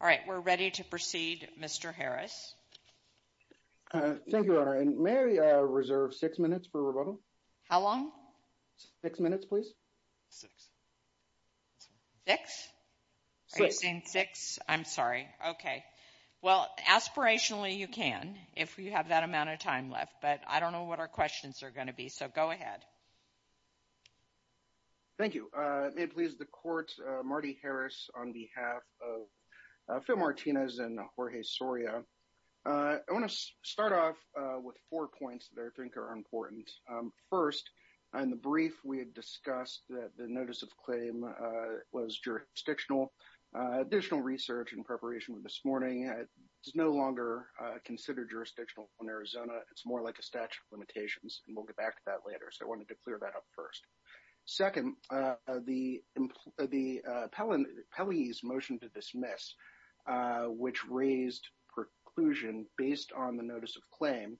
All right, we're ready to proceed Mr. Harris. Thank you, Your Honor. May I reserve six minutes for rebuttal? How long? Six minutes, please. Six? Are you saying six? I'm sorry. Okay. Well, aspirationally you can if you have that amount of time left, but I don't know what our questions are going to be, so go ahead. Thank you. May it please the Court, Marty Harris on behalf of Phil Martinez and Jorge Soria. I want to start off with four points that I think are important. First, in the brief we had discussed that the notice of claim was jurisdictional. Additional research in preparation with this morning, it's no longer considered jurisdictional in Arizona. It's more like a we'll get back to that later, so I wanted to clear that up first. Second, the Pelley's motion to dismiss, which raised preclusion based on the notice of claim,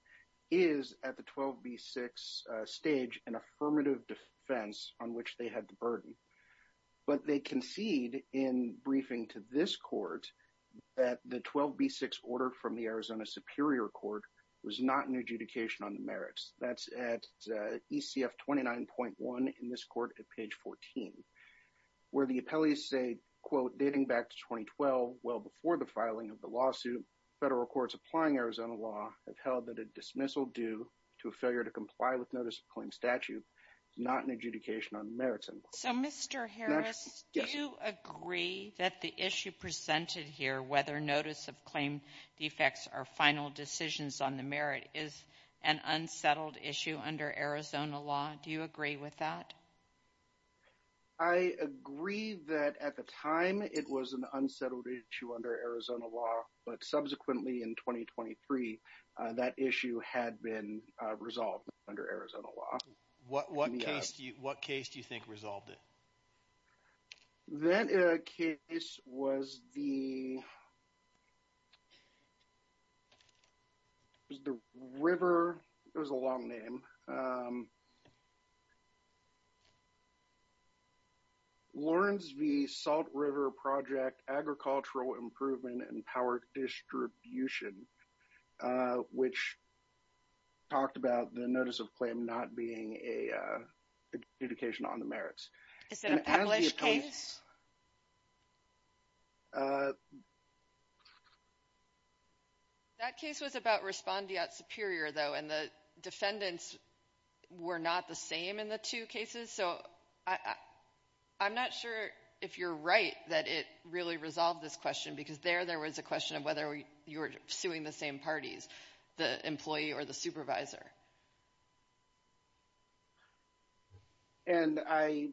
is at the 12B6 stage an affirmative defense on which they had the burden. But they concede in briefing to this Court that the 12B6 order from the Arizona Superior Court was not an adjudication on the merits. That's at ECF 29.1 in this Court at page 14, where the appellees say, quote, dating back to 2012, well before the filing of the lawsuit, federal courts applying Arizona law have held that a dismissal due to a failure to comply with notice of claim statute is not an adjudication on the merits. So, Mr. Harris, do you agree that the issue presented here, whether notice of claim defects are final decisions on the merit, is an unsettled issue under Arizona law? Do you agree with that? I agree that at the time it was an unsettled issue under Arizona law, but subsequently in 2023 that issue had been resolved under Arizona law. What case do you think resolved it? That case was the River, it was a long name, Lawrence v. Salt River Project Agricultural Improvement and Power Distribution, which talked about the notice of claim not being an adjudication on the merits. Is it a published case? That case was about Respondiat Superior, though, and the defendants were not the same in the two cases, so I'm not sure if you're right that it really resolved this question, because there, there was a question of whether you were suing the same parties, the employee or the supervisor. And I,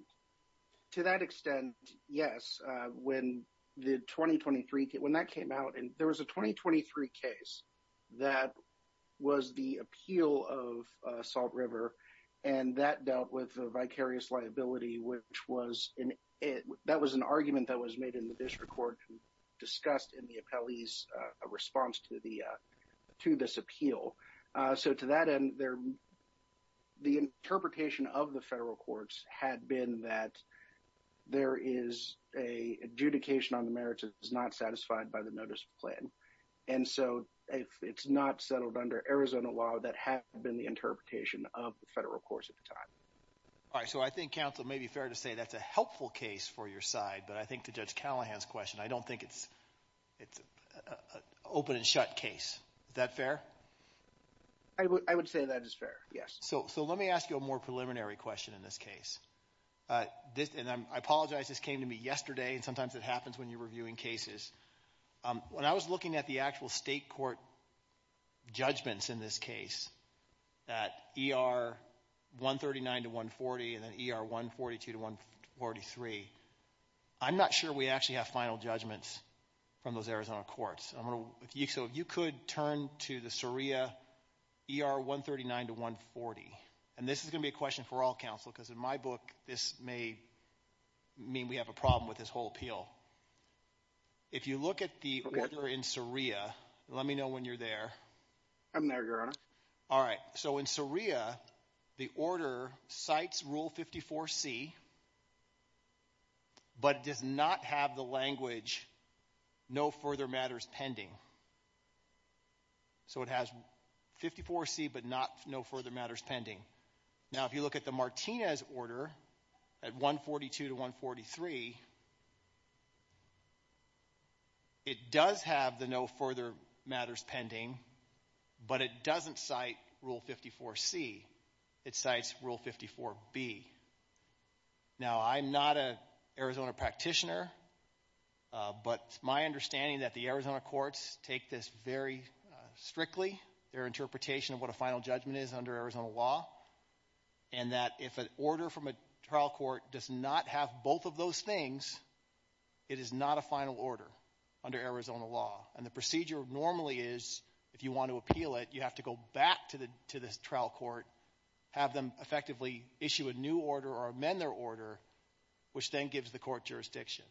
to that extent, yes, when the 2023, when that came out, and there was a 2023 case that was the appeal of Salt River, and that dealt with a vicarious liability, which was, that was an argument that was made in the district court, discussed in the appellee's response to the, to this appeal. So to that end, the interpretation of the federal courts had been that there is a adjudication on the merits that is not satisfied by the notice of claim. And so if it's not settled under Arizona law, that has been the interpretation of the federal courts at the time. All right, so I think counsel may be fair to say that's a helpful case for your side, but I think to Judge Callahan's question, I don't think it's, it's an open and shut case. Is that fair? I would, I would say that is fair, yes. So, so let me ask you a more preliminary question in this case. This, and I apologize, this came to me yesterday, and sometimes it happens when you're reviewing cases. When I was looking at the actual state court judgments in this case, that ER 139 to 140, and then ER 142 to 143, I'm not sure we actually have final judgments from those Arizona courts. I'm going to, if you, so if you could turn to the Suria ER 139 to 140, and this is going to be a question for all counsel, because in my book, this may mean we have a problem with this whole appeal. If you look at the order in Suria, let me know when you're there. I'm there, Your Honor. All right, so in Suria, the order cites Rule 54C, but it does not have the language, no further matters pending. So it has 54C, but not, no further matters pending. Now, if you look at the Martinez order at 142 to 143, it does have the no further matters pending, but it doesn't cite Rule 54C. It cites Rule 54B. Now, I'm not an Arizona practitioner, but it's my understanding that the Arizona courts take this very strictly, their interpretation of what a final judgment is under Arizona law, and that if an order from a trial court does not have both of those things, it is not a final order under Arizona law, and the procedure normally is, if you want to appeal it, you have to go back to the trial court, have them effectively issue a new order or amend their order, which then gives the court jurisdiction.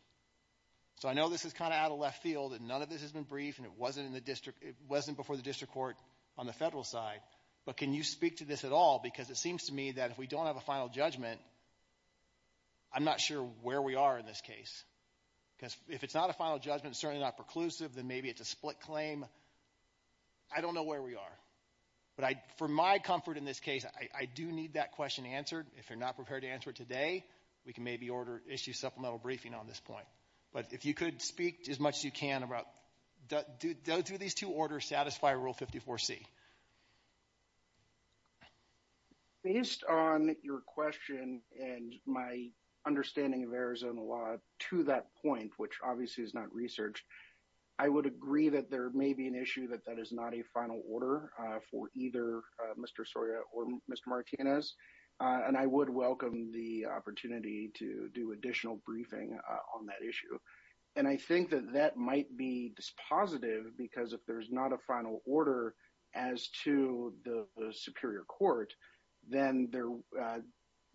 So I know this is kind of out of left field, and none of this has been briefed, and it wasn't in the district, it wasn't before the district court on the federal side, but can you speak to this at all, because it seems to me that if we don't have a final judgment, I'm not sure where we are in this case, because if it's not a final judgment, certainly not preclusive, then maybe it's a split claim. I don't know where we are, but I, for my comfort in this case, I do need that question answered. If you're not prepared to answer it today, we can maybe order, issue supplemental briefing on this point, but if you could speak as much as you can about, do these two orders satisfy Rule 54C? Based on your question and my understanding of Arizona law to that point, which obviously is not researched, I would agree that there may be an issue that that is not a final order for either Mr. Soria or Mr. Martinez, and I would welcome the opportunity to do additional briefing on that issue. And I think that that might be dispositive, because if there's not a final order as to the superior court, then there,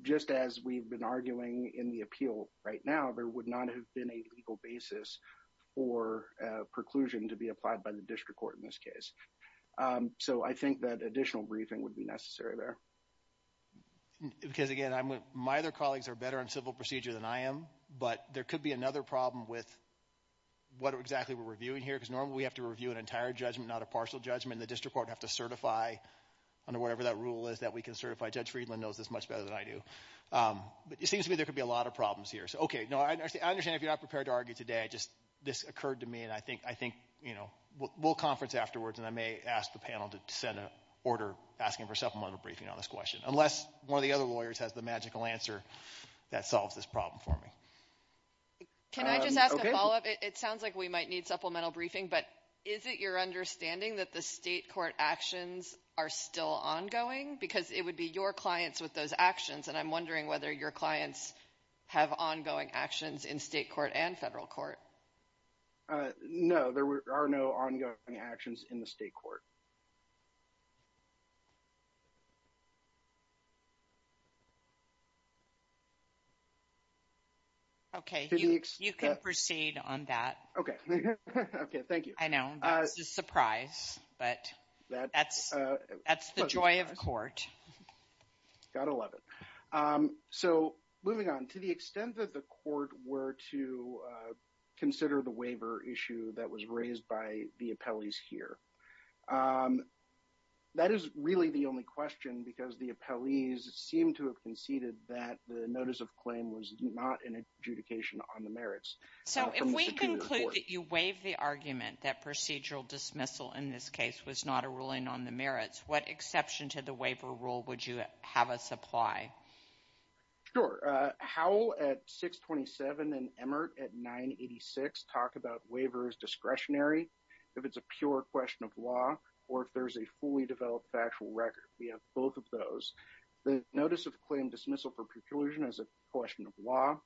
just as we've been arguing in the appeal right now, there would not have been a legal basis for preclusion to be applied by the district court in this case. So, I think that additional briefing would be necessary there. Because again, my other colleagues are better in civil procedure than I am, but there could be another problem with what exactly we're reviewing here, because normally we have to review an entire judgment, not a partial judgment, and the district court would have to certify under whatever that rule is that we can certify. Judge Friedland knows this much better than I do. But it seems to me there could be a lot of problems here. So, okay, no, I understand if you're not prepared to argue today, just this occurred to me, and I think, you know, we'll conference afterwards, and I may ask the panel to send an order asking for supplemental briefing on this question, unless one of the other lawyers has the magical answer that solves this problem for me. Can I just ask a follow-up? It sounds like we might need supplemental briefing, but is it your understanding that the state court actions are still ongoing? Because it would be your clients with those actions, and I'm wondering whether your clients have ongoing actions in state court and federal court. No, there are no ongoing actions in the state court. Okay, you can proceed on that. Okay, okay, thank you. I know, this is a surprise, but that's the joy of court. Gotta love it. So, moving on, to the extent that the court were to consider the waiver issue that was raised by the appellees here, that is really the only question, because the appellees seem to have conceded that the notice of claim was not an adjudication on the merits. So, if we conclude that you waive the argument that procedural dismissal in this case was not a ruling on the merits, what exception to the waiver rule would you have us apply? Sure, Howell at 627 and Emmert at 986 talk about waiver as discretionary, if it's a pure question of law, or if there's a fully developed factual record. We have both of those. The notice of claim dismissal for preclusion is a question of law,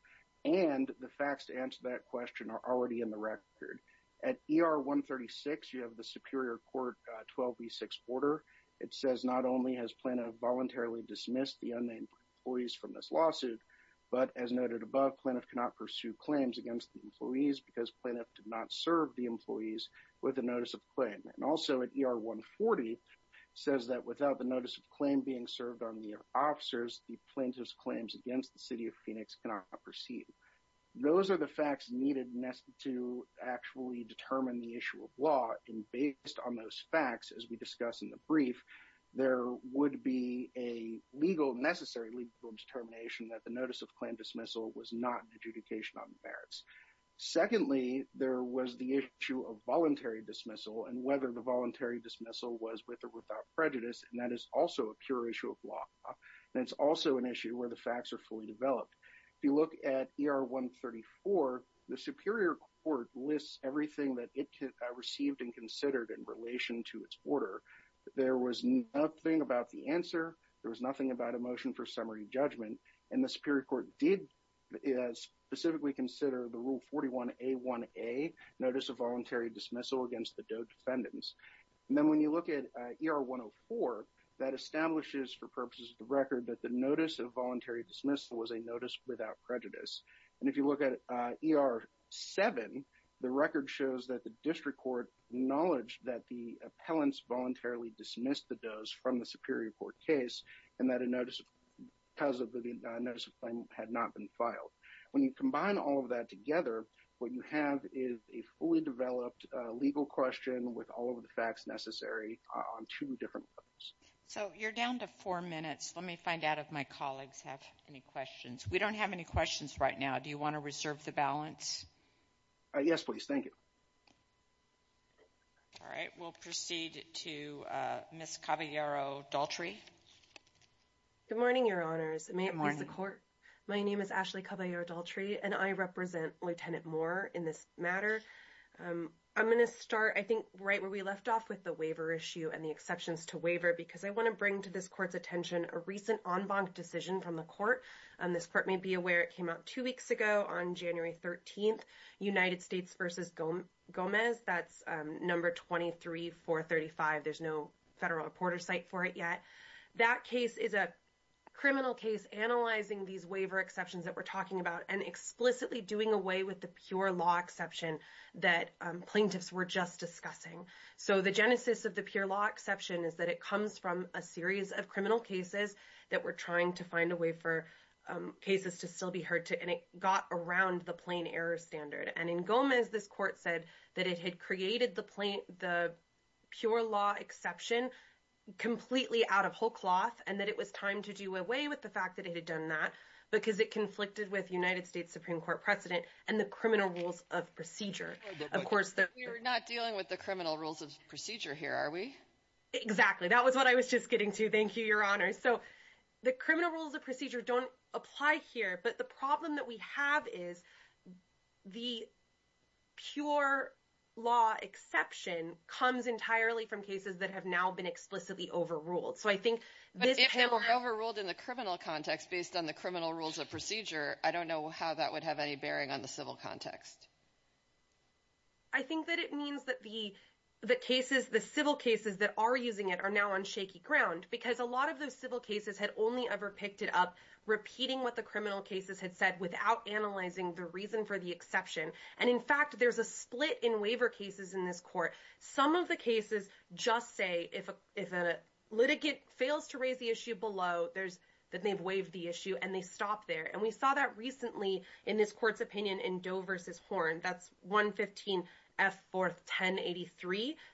and the facts to answer that question are already in the record. At ER 136, you have the Superior Court 12B6 order. It says not only has Plaintiff voluntarily dismissed the unnamed employees from this lawsuit, but as noted above, Plaintiff cannot pursue claims against the employees because Plaintiff did not serve the with the notice of claim. And also at ER 140, it says that without the notice of claim being served on the officers, the Plaintiff's claims against the City of Phoenix cannot proceed. Those are the facts needed to actually determine the issue of law, and based on those facts, as we discuss in the brief, there would be a legal, necessary legal determination that the of voluntary dismissal and whether the voluntary dismissal was with or without prejudice. And that is also a pure issue of law, and it's also an issue where the facts are fully developed. If you look at ER 134, the Superior Court lists everything that it received and considered in relation to its order. There was nothing about the answer. There was nothing about a motion for judgment, and the Superior Court did specifically consider the Rule 41A1A, Notice of Voluntary Dismissal against the Doe Defendants. And then when you look at ER 104, that establishes, for purposes of the record, that the notice of voluntary dismissal was a notice without prejudice. And if you look at ER 7, the record shows that the District Court acknowledged that the appellants voluntarily dismissed the does from the Superior Court case and that a notice because of the notice of claim had not been filed. When you combine all of that together, what you have is a fully developed legal question with all of the facts necessary on two different levels. So you're down to four minutes. Let me find out if my colleagues have any questions. We don't have any questions right now. Do you want to reserve the balance? Yes, please. Thank you. All right. We'll proceed to Ms. Caballero-Daltrey. Good morning, Your Honors. May it please the Court? My name is Ashley Caballero-Daltrey, and I represent Lieutenant Moore in this matter. I'm going to start, I think, right where we left off with the waiver issue and the exceptions to waiver, because I want to bring to this Court's attention a recent en banc decision from the Court. This Court may be aware it came out two weeks ago on January 13th, United States v. Gomez. That's number 23435. There's no federal reporter site for it yet. That case is a criminal case analyzing these waiver exceptions that we're talking about and explicitly doing away with the pure law exception that plaintiffs were just discussing. So the genesis of the pure law exception is that it comes from a series of criminal cases that we're trying to find a way for cases to still be heard, and it got around the plain error standard. And in Gomez, this Court said that it had created the pure law exception completely out of whole cloth and that it was time to do away with the fact that it had done that because it conflicted with United States Supreme Court precedent and the criminal rules of procedure. We're not dealing with the criminal rules of procedure here, are we? Exactly. That was what I was just getting to. Thank you, Your Honor. So the criminal rules of procedure don't apply here, but the problem that we have is the pure law exception comes entirely from cases that have now been explicitly overruled. But if they were overruled in the criminal context based on the criminal rules of procedure, I don't know how that would have any bearing on the civil context. I think that it means that the cases, the civil cases that are using it are now on shaky ground because a lot of those civil cases had only ever picked it up repeating what the criminal cases had said without analyzing the reason for the exception. And in fact, there's a split in waiver cases in this Court. Some of the cases just say if a litigant fails to raise the issue below, that they've waived the issue and they stop there. And we saw that recently in this Court's opinion in Doe v. Horn. That's 115F41083.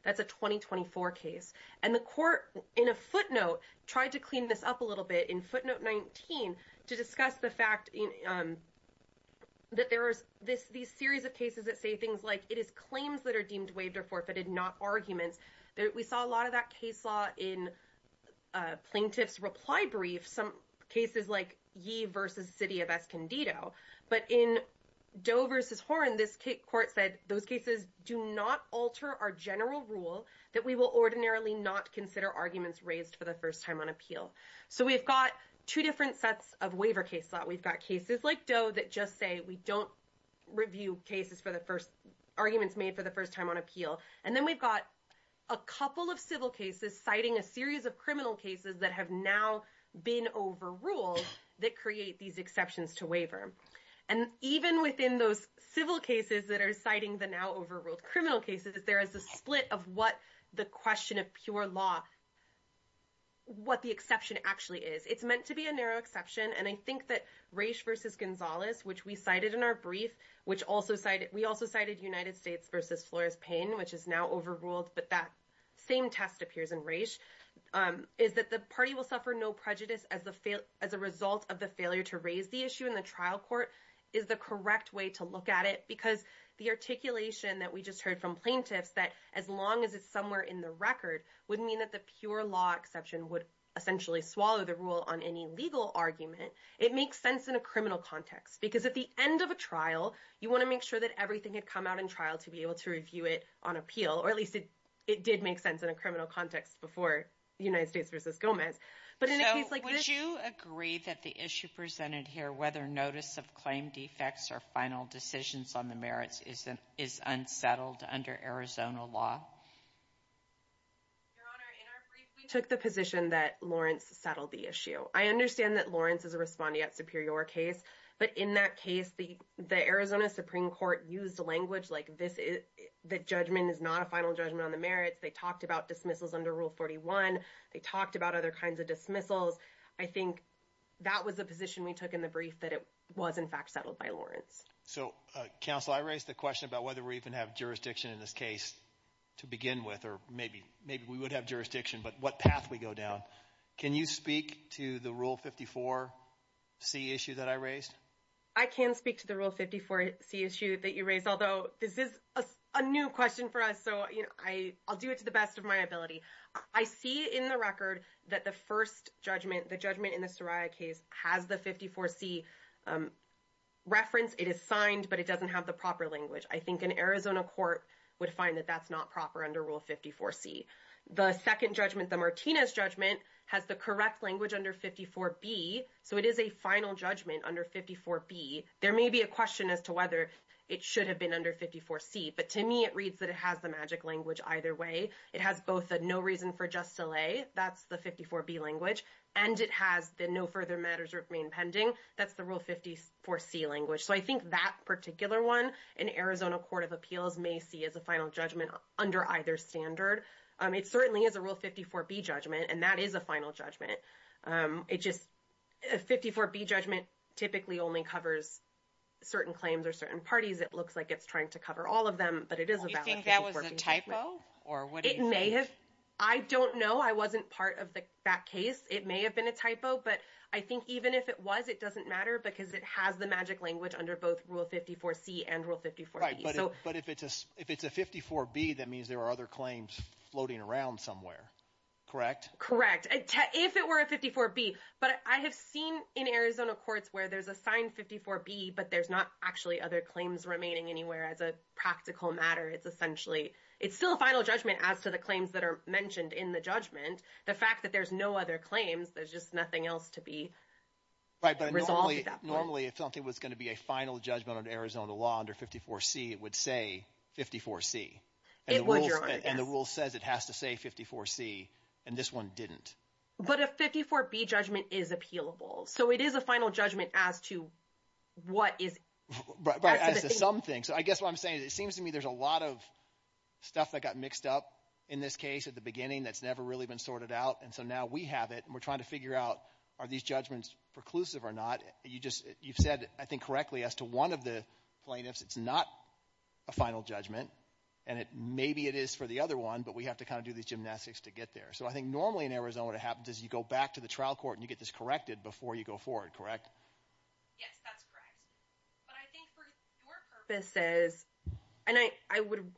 That's a 2024 case. And the Court, in a footnote, tried to clean this up a little bit in footnote 19 to discuss the fact that there are these series of cases that say things like, it is claims that are deemed waived or forfeited, not arguments. We saw a lot of that case law in plaintiff's reply brief, some cases like Yee v. City of Escondido. But in Doe v. Horn, this Court said those cases do not alter our general rule that we will ordinarily not consider arguments raised for the first time on appeal. So we've got two different sets of waiver case law. We've got cases like Doe that just say we don't review cases for the first, arguments made for the first time on appeal. And then we've got a couple of civil cases citing a series of criminal cases that have now been overruled that create these exceptions to waiver. And even within those civil cases that are citing the now overruled criminal cases, there is a split of what the question of pure law, what the exception actually is. It's meant to be a narrow exception. And I think that Raich v. Gonzalez, which we cited in our brief, we also cited United States v. Flores Payne, which is now overruled, but that same test appears in Raich, is that the party will suffer no prejudice as a result of the failure to raise the issue in the trial court, is the correct way to look at it. Because the articulation that we just heard from plaintiffs, that as long as it's somewhere in the record, wouldn't mean that the pure law exception would essentially swallow the rule on any legal argument. It makes sense in a criminal context, because at the end of a trial, you want to make sure that everything had come out in trial to be able to review it on appeal, or at least it did make sense in a criminal context before United States v. Gomez. But in a case like this- Would you agree that the issue presented here, whether notice of claim defects or final decisions on the merits is unsettled under Arizona law? Your Honor, in our brief, we took the position that Lawrence settled the issue. I understand that Lawrence is a respondeat superior case, but in that case, the Arizona Supreme Court used language like the judgment is not a final judgment on the merits. They talked about dismissals under Rule 41. They talked about other kinds of dismissals. I think that was a position we took in the brief, that it was in fact settled by Lawrence. So counsel, I raised the question about whether we even have jurisdiction in this case to begin with, or maybe we would have jurisdiction, but what path we go down. Can you speak to the Rule 54C issue that I raised? I can speak to the Rule 54C issue that you raised, although this is a new question for us, so I'll do it to the best of my ability. I see in the record that the first judgment, the judgment in the Soraya case has the 54C reference. It is signed, but it doesn't have the proper language. I think an Arizona court would find that that's not proper under Rule 54C. The second judgment, the Martinez judgment, has the correct language under 54B, so it is a final judgment under 54B. There may be a question as to whether it should have been under 54C, but to me, it reads that it has the magic language either way. It has both a no reason for just delay, that's the 54B language, and it has the no further matters remain pending, that's the Rule 54C language. So I think that particular one, an Arizona court of appeals may see as a final judgment under either standard. It certainly is a Rule 54B judgment, and that is a final judgment. It just, a 54B judgment typically only covers certain claims or certain parties. It looks like it's trying to cover all of them, but it is a valid- Do you think that was a typo, or what do you think? It may have. I don't know. I wasn't part of that case. It may have been a typo, but I think even if it was, it doesn't matter because it has the magic language under both Rule 54C and Rule 54B. Right, but if it's a 54B, that means there are other claims floating around somewhere, correct? Correct. If it were a 54B, but I have seen in Arizona courts where there's a signed 54B, but there's not actually other claims remaining anywhere as a practical matter. It's essentially, it's still a final judgment as to the claims that are mentioned in the judgment. The fact that there's no other claims, there's just nothing else to be resolved at that point. Normally, if something was going to be a final judgment on Arizona law under 54C, it would say 54C. It would, Your Honor, yes. The rule says it has to say 54C, and this one didn't. But a 54B judgment is appealable, so it is a final judgment as to what is- As to something. I guess what I'm saying is it seems to me there's a lot of stuff that got mixed up in this case at the beginning that's never really been sorted out, and so now we have it, and we're trying to figure out are these judgments preclusive or not. You've said, I think correctly, as to one of the plaintiffs, it's not a final judgment, and maybe it is for the other one, but we have to kind of do these gymnastics to get there. So I think normally in Arizona, what happens is you go back to the trial court and you get this corrected before you go forward, correct? Yes, that's correct. But I think for your purposes, and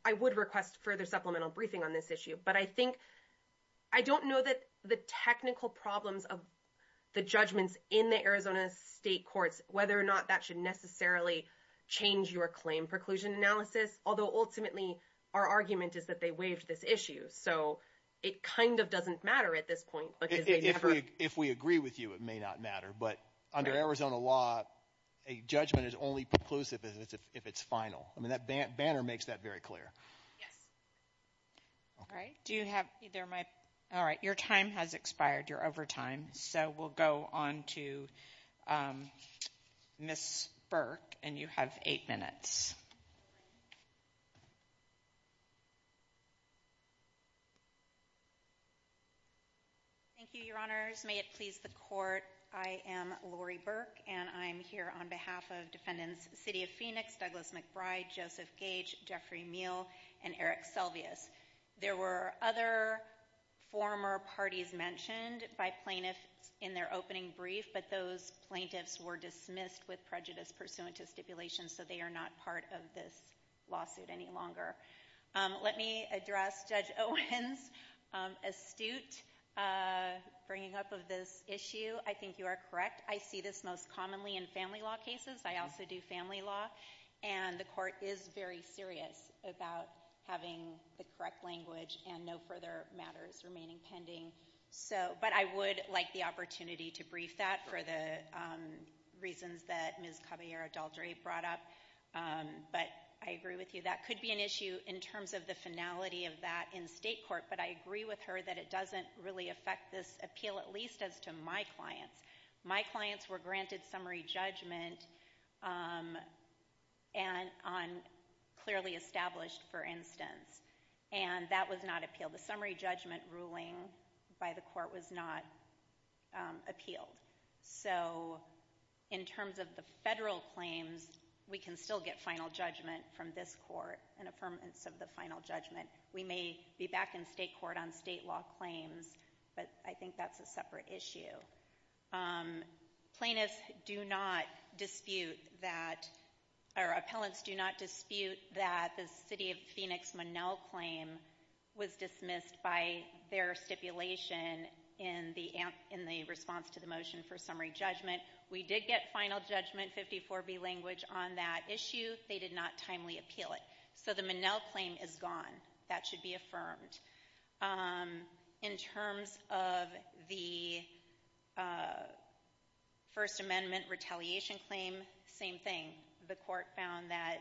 I would request further supplemental briefing on this issue, but I think I don't know that the technical problems of the judgments in the Arizona state courts, whether or not that should necessarily change your claim preclusion analysis, although ultimately our argument is that they waived this issue. So it kind of doesn't matter at this point, because they never- If we agree with you, it may not matter, but under Arizona law, a judgment is only preclusive if it's final. I mean, that banner makes that very clear. Yes. All right. Do you have either my- All right. Your time has expired. You're over time, so we'll go on to Ms. Burke, and you have eight minutes. Thank you, Your Honors. May it please the court, I am Lori Burke, and I'm here on behalf of defendants, City of Phoenix, Douglas McBride, Joseph Gage, Jeffrey Meele, and Eric Selvius. There were other former parties mentioned by plaintiffs in their opening brief, but those plaintiffs were dismissed with prejudice pursuant to stipulation, so they are not part of this Let me address Judge Owens' astute bringing up of this issue. I think you are correct. I see this most commonly in family law cases. I also do family law, and the court is very serious about having the correct language and no further matters remaining pending. But I would like the opportunity to brief that for the reasons that Ms. Caballero-Daldry brought up, but I agree with you. That could be an issue in terms of the finality of that in state court, but I agree with her that it doesn't really affect this appeal, at least as to my clients. My clients were granted summary judgment on clearly established, for instance, and that was not appealed. The summary judgment ruling by the court was not appealed. So in terms of the federal claims, we can still get final judgment from this court, an affirmance of the final judgment. We may be back in state court on state law claims, but I think that's a separate issue. Plaintiffs do not dispute that, or appellants do not dispute that the City of Phoenix Monell claim was dismissed by their stipulation in the response to the motion for summary judgment. We did get final judgment, 54B language, on that issue. They did not timely appeal it. So the Monell claim is gone. That should be affirmed. In terms of the First Amendment retaliation claim, same thing. The court found that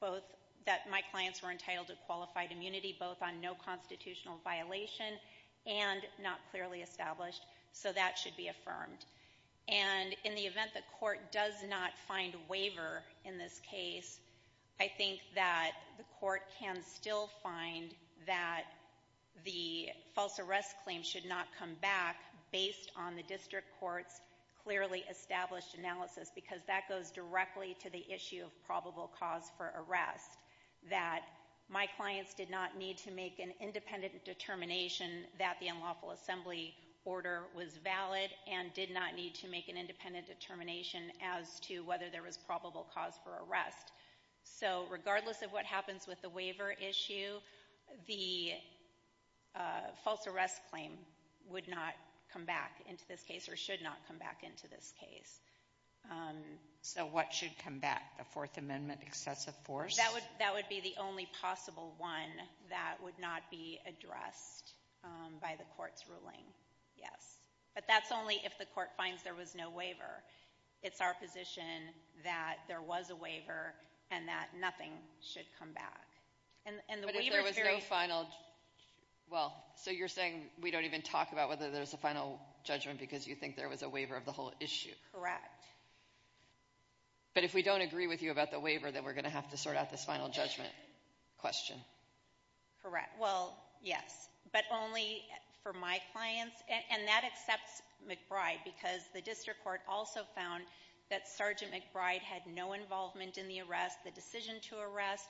both that my clients were entitled to qualified immunity, both on no constitutional violation and not clearly established. So that should be affirmed. And in the event the court does not find waiver in this case, I think that the court can still find that the false arrest claim should not come back based on the district court's clearly established analysis, because that goes directly to the issue of probable cause for arrest, that my clients did not need to make an independent determination that the unlawful assembly order was valid and did not need to make an independent determination as to whether there was probable cause for arrest. So regardless of what happens with the waiver issue, the false arrest claim would not come back into this case or should not come back into this case. So what should come back? The Fourth Amendment excessive force? That would be the only possible one that would not be addressed by the court's ruling. Yes. But that's only if the court finds there was no waiver. It's our position that there was a waiver and that nothing should come back. But if there was no final, well, so you're saying we don't even talk about whether there's a final judgment because you think there was a waiver of the whole issue. Correct. But if we don't agree with you about the waiver, then we're going to have to sort out this final judgment question. Correct. Well, yes, but only for my clients. And that accepts McBride because the district court also found that Sergeant McBride had no involvement in the arrest, the decision to arrest,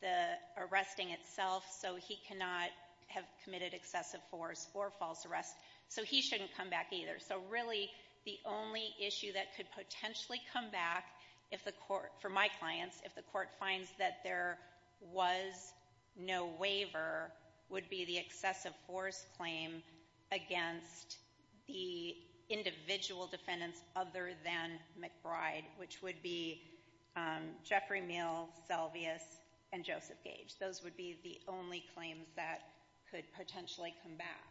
the arresting itself. So he cannot have committed excessive force or false arrest. So he shouldn't come back either. So really the only issue that could potentially come back if the court, for my clients, if the court finds that there was no waiver would be the excessive force claim against the individual defendants other than McBride, which would be Jeffrey Meehl, Selvius, and Joseph Gage. Those would be the only claims that could potentially come back.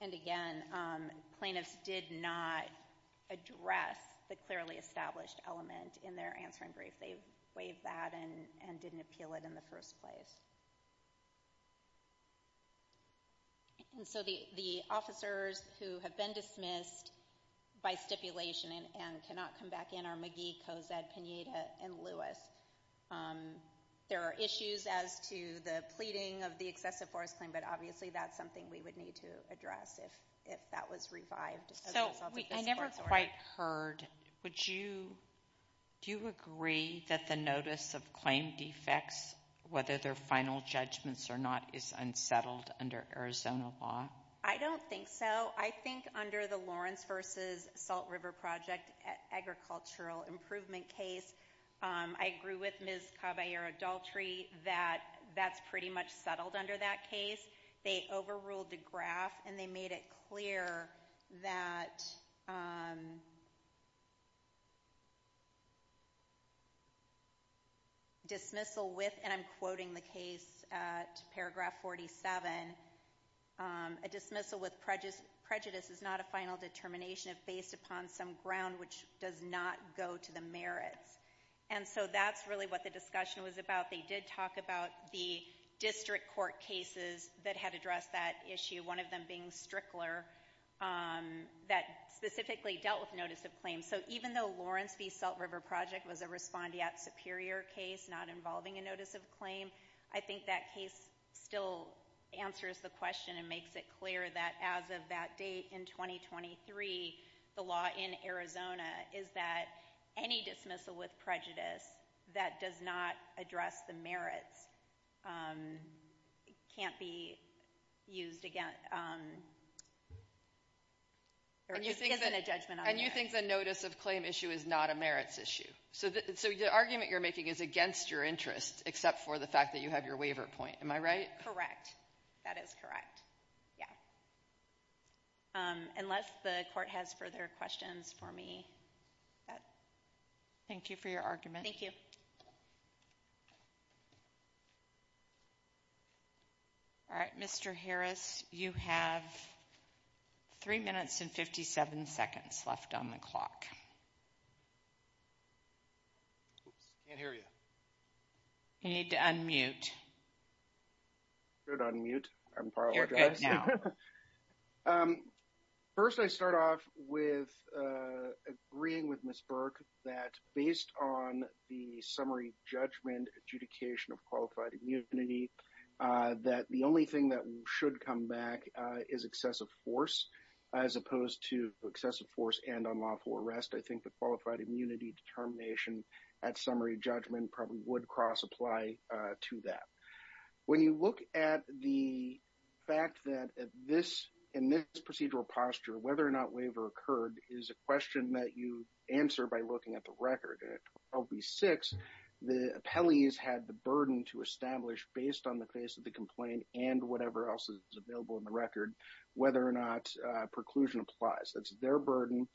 And again, plaintiffs did not address the clearly established element in their answering brief. They waived that and didn't appeal it in the first place. And so the officers who have been dismissed by stipulation and cannot come back in are McGee, Cozad, Pineda, and Lewis. There are issues as to the pleading of the excessive force claim, but obviously that's something we would need to address if that was revived. So I never quite heard. Do you agree that the notice of claim defects, whether they're final judgments or not, is unsettled under Arizona law? I don't think so. I think under the Lawrence v. Salt River Project agricultural improvement case, I agree with Ms. Caballero-Daltry that that's pretty much settled under that case. They overruled the graph and they made it clear that dismissal with, and I'm quoting the case at paragraph 47, a dismissal with prejudice is not a final determination if based upon some ground which does not go to the merits. And so that's really the discussion was about. They did talk about the district court cases that had addressed that issue, one of them being Strickler, that specifically dealt with notice of claim. So even though Lawrence v. Salt River Project was a respondeat superior case not involving a notice of claim, I think that case still answers the question and makes it clear that as of that date in 2023, the law in Arizona is that any dismissal with prejudice that does not address the merits can't be used against, or isn't a judgment on the merits. And you think the notice of claim issue is not a merits issue. So the argument you're making is against your interest except for the fact that you have your waiver point. Am I right? Correct. That is correct. Yeah. Unless the court has further questions for me. Thank you for your argument. Thank you. All right, Mr. Harris, you have three minutes and 57 seconds left on the clock. Oops, can't hear you. You need to unmute. You're on mute. I apologize. You're good now. First, I start off with agreeing with Ms. Burke that based on the summary judgment adjudication of qualified immunity, that the only thing that should come back is excessive force, as opposed to excessive force and unlawful arrest. I think the qualified immunity determination at summary judgment probably would cross apply to that. When you look at the fact that in this procedural posture, whether or not waiver occurred is a question that you answer by looking at the record. At 12B6, the appellees had the burden to establish based on the face of the complaint and whatever else is available in the record, whether or not preclusion applies. That's their burden.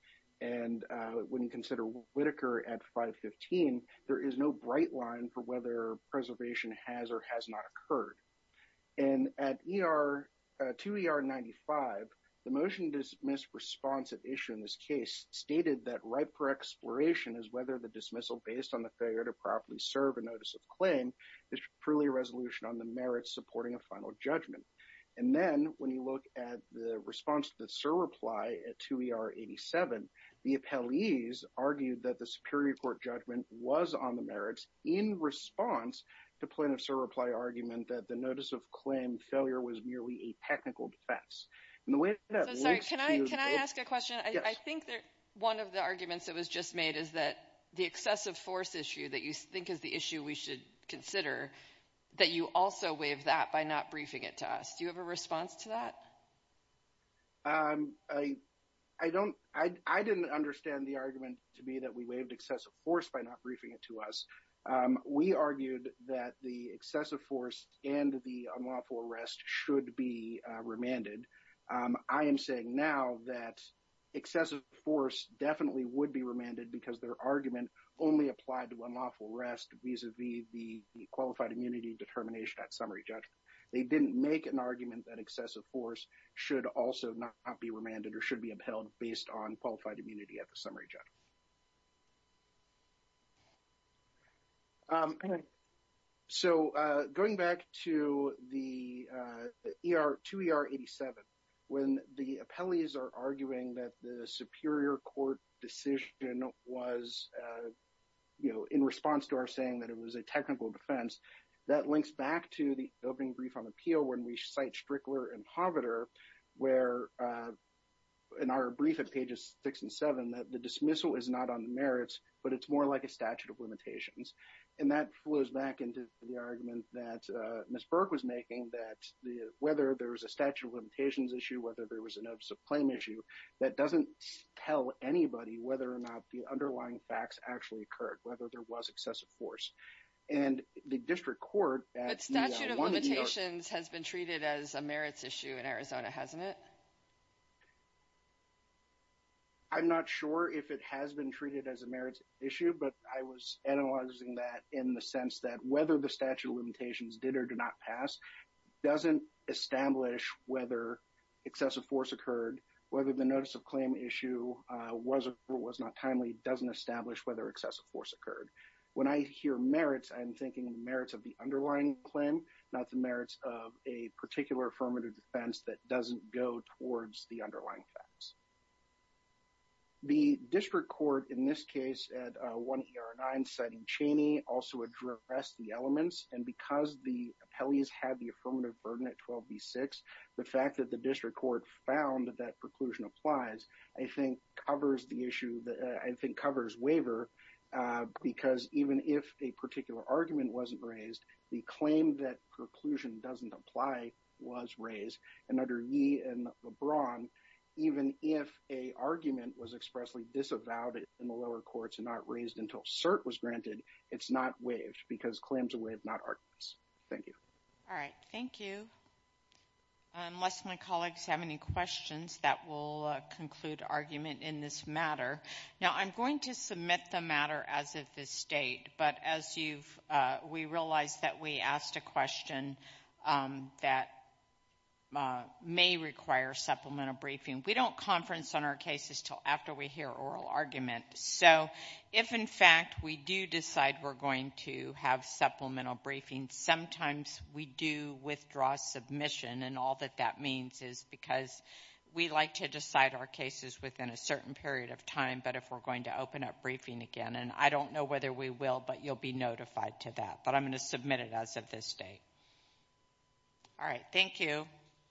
When you consider Whitaker at 515, there is no bright line for whether preservation has or has not occurred. At 2ER95, the motion to dismiss responsive issue in this case stated that right for exploration is whether the dismissal based on the failure to properly serve a notice of claim is truly a resolution on the merits supporting a final judgment. Then when you look at the response to the SIR reply at 2ER87, the appellees argued that the Superior Court judgment was on the merits in response to plaintiff's SIR reply argument that the notice of claim failure was merely a technical defense. Can I ask a question? I think that one of the arguments that was just made is that the excessive force issue that you think is the issue we should consider, that you also waive that by not briefing it to us. Do you have a response to that? I didn't understand the argument to be that we waived excessive force by not briefing it to us. We argued that the excessive force and the unlawful arrest should be remanded. I am saying now that excessive force definitely would be remanded because their argument only applied to unlawful arrest vis-a-vis the qualified immunity determination at summary judgment. They didn't make an argument that excessive force should also not be remanded or should be upheld based on qualified immunity at the summary judgment. So going back to 2ER87, when the appellees are arguing that the Superior Court decision was in response to our saying that it was a technical defense, that links back to the opening brief on appeal when we cite Strickler and Hovater where in our brief at pages 6 and 7 that the dismissal is not on the merits but it's more like a statute of limitations. And that flows back into the argument that Ms. Burke was making that whether there was a statute of limitations issue, whether there was a notice of claim issue, that doesn't tell anybody whether or not the underlying facts actually occurred, whether there was excessive force. And the district court... But statute of limitations has been treated as a merits issue in Arizona, hasn't it? I'm not sure if it has been treated as a merits issue but I was analyzing that in the sense that whether the statute of limitations did or did not pass doesn't establish whether excessive force occurred, whether the notice of claim issue was or was not timely doesn't establish whether excessive force occurred. When I hear merits, I'm thinking merits of the underlying claim, not the merits of a particular affirmative defense that doesn't go towards the underlying facts. The district court in this case at 1ER9 citing Cheney also addressed the elements and because the appellees had the affirmative burden at 12B6, the fact that the district court found that preclusion applies I think covers the issue that I think covers waiver because even if a particular argument wasn't raised, the claim that preclusion doesn't apply was raised and under Yee and LeBron, even if a argument was expressly disavowed in the lower courts and not raised until cert was granted, it's not waived because claims are waived, not arguments. Thank you. All right, thank you. Unless my colleagues have any questions, that will conclude argument in this matter. Now I'm going to submit the matter as of this date but as we realized that we asked a question that may require supplemental briefing, we don't conference on our cases until after we oral argument. So if in fact we do decide we're going to have supplemental briefing, sometimes we do withdraw submission and all that that means is because we like to decide our cases within a certain period of time but if we're going to open up briefing again and I don't know whether we will but you'll be notified to that but I'm going to submit it as of this date. All right, thank you.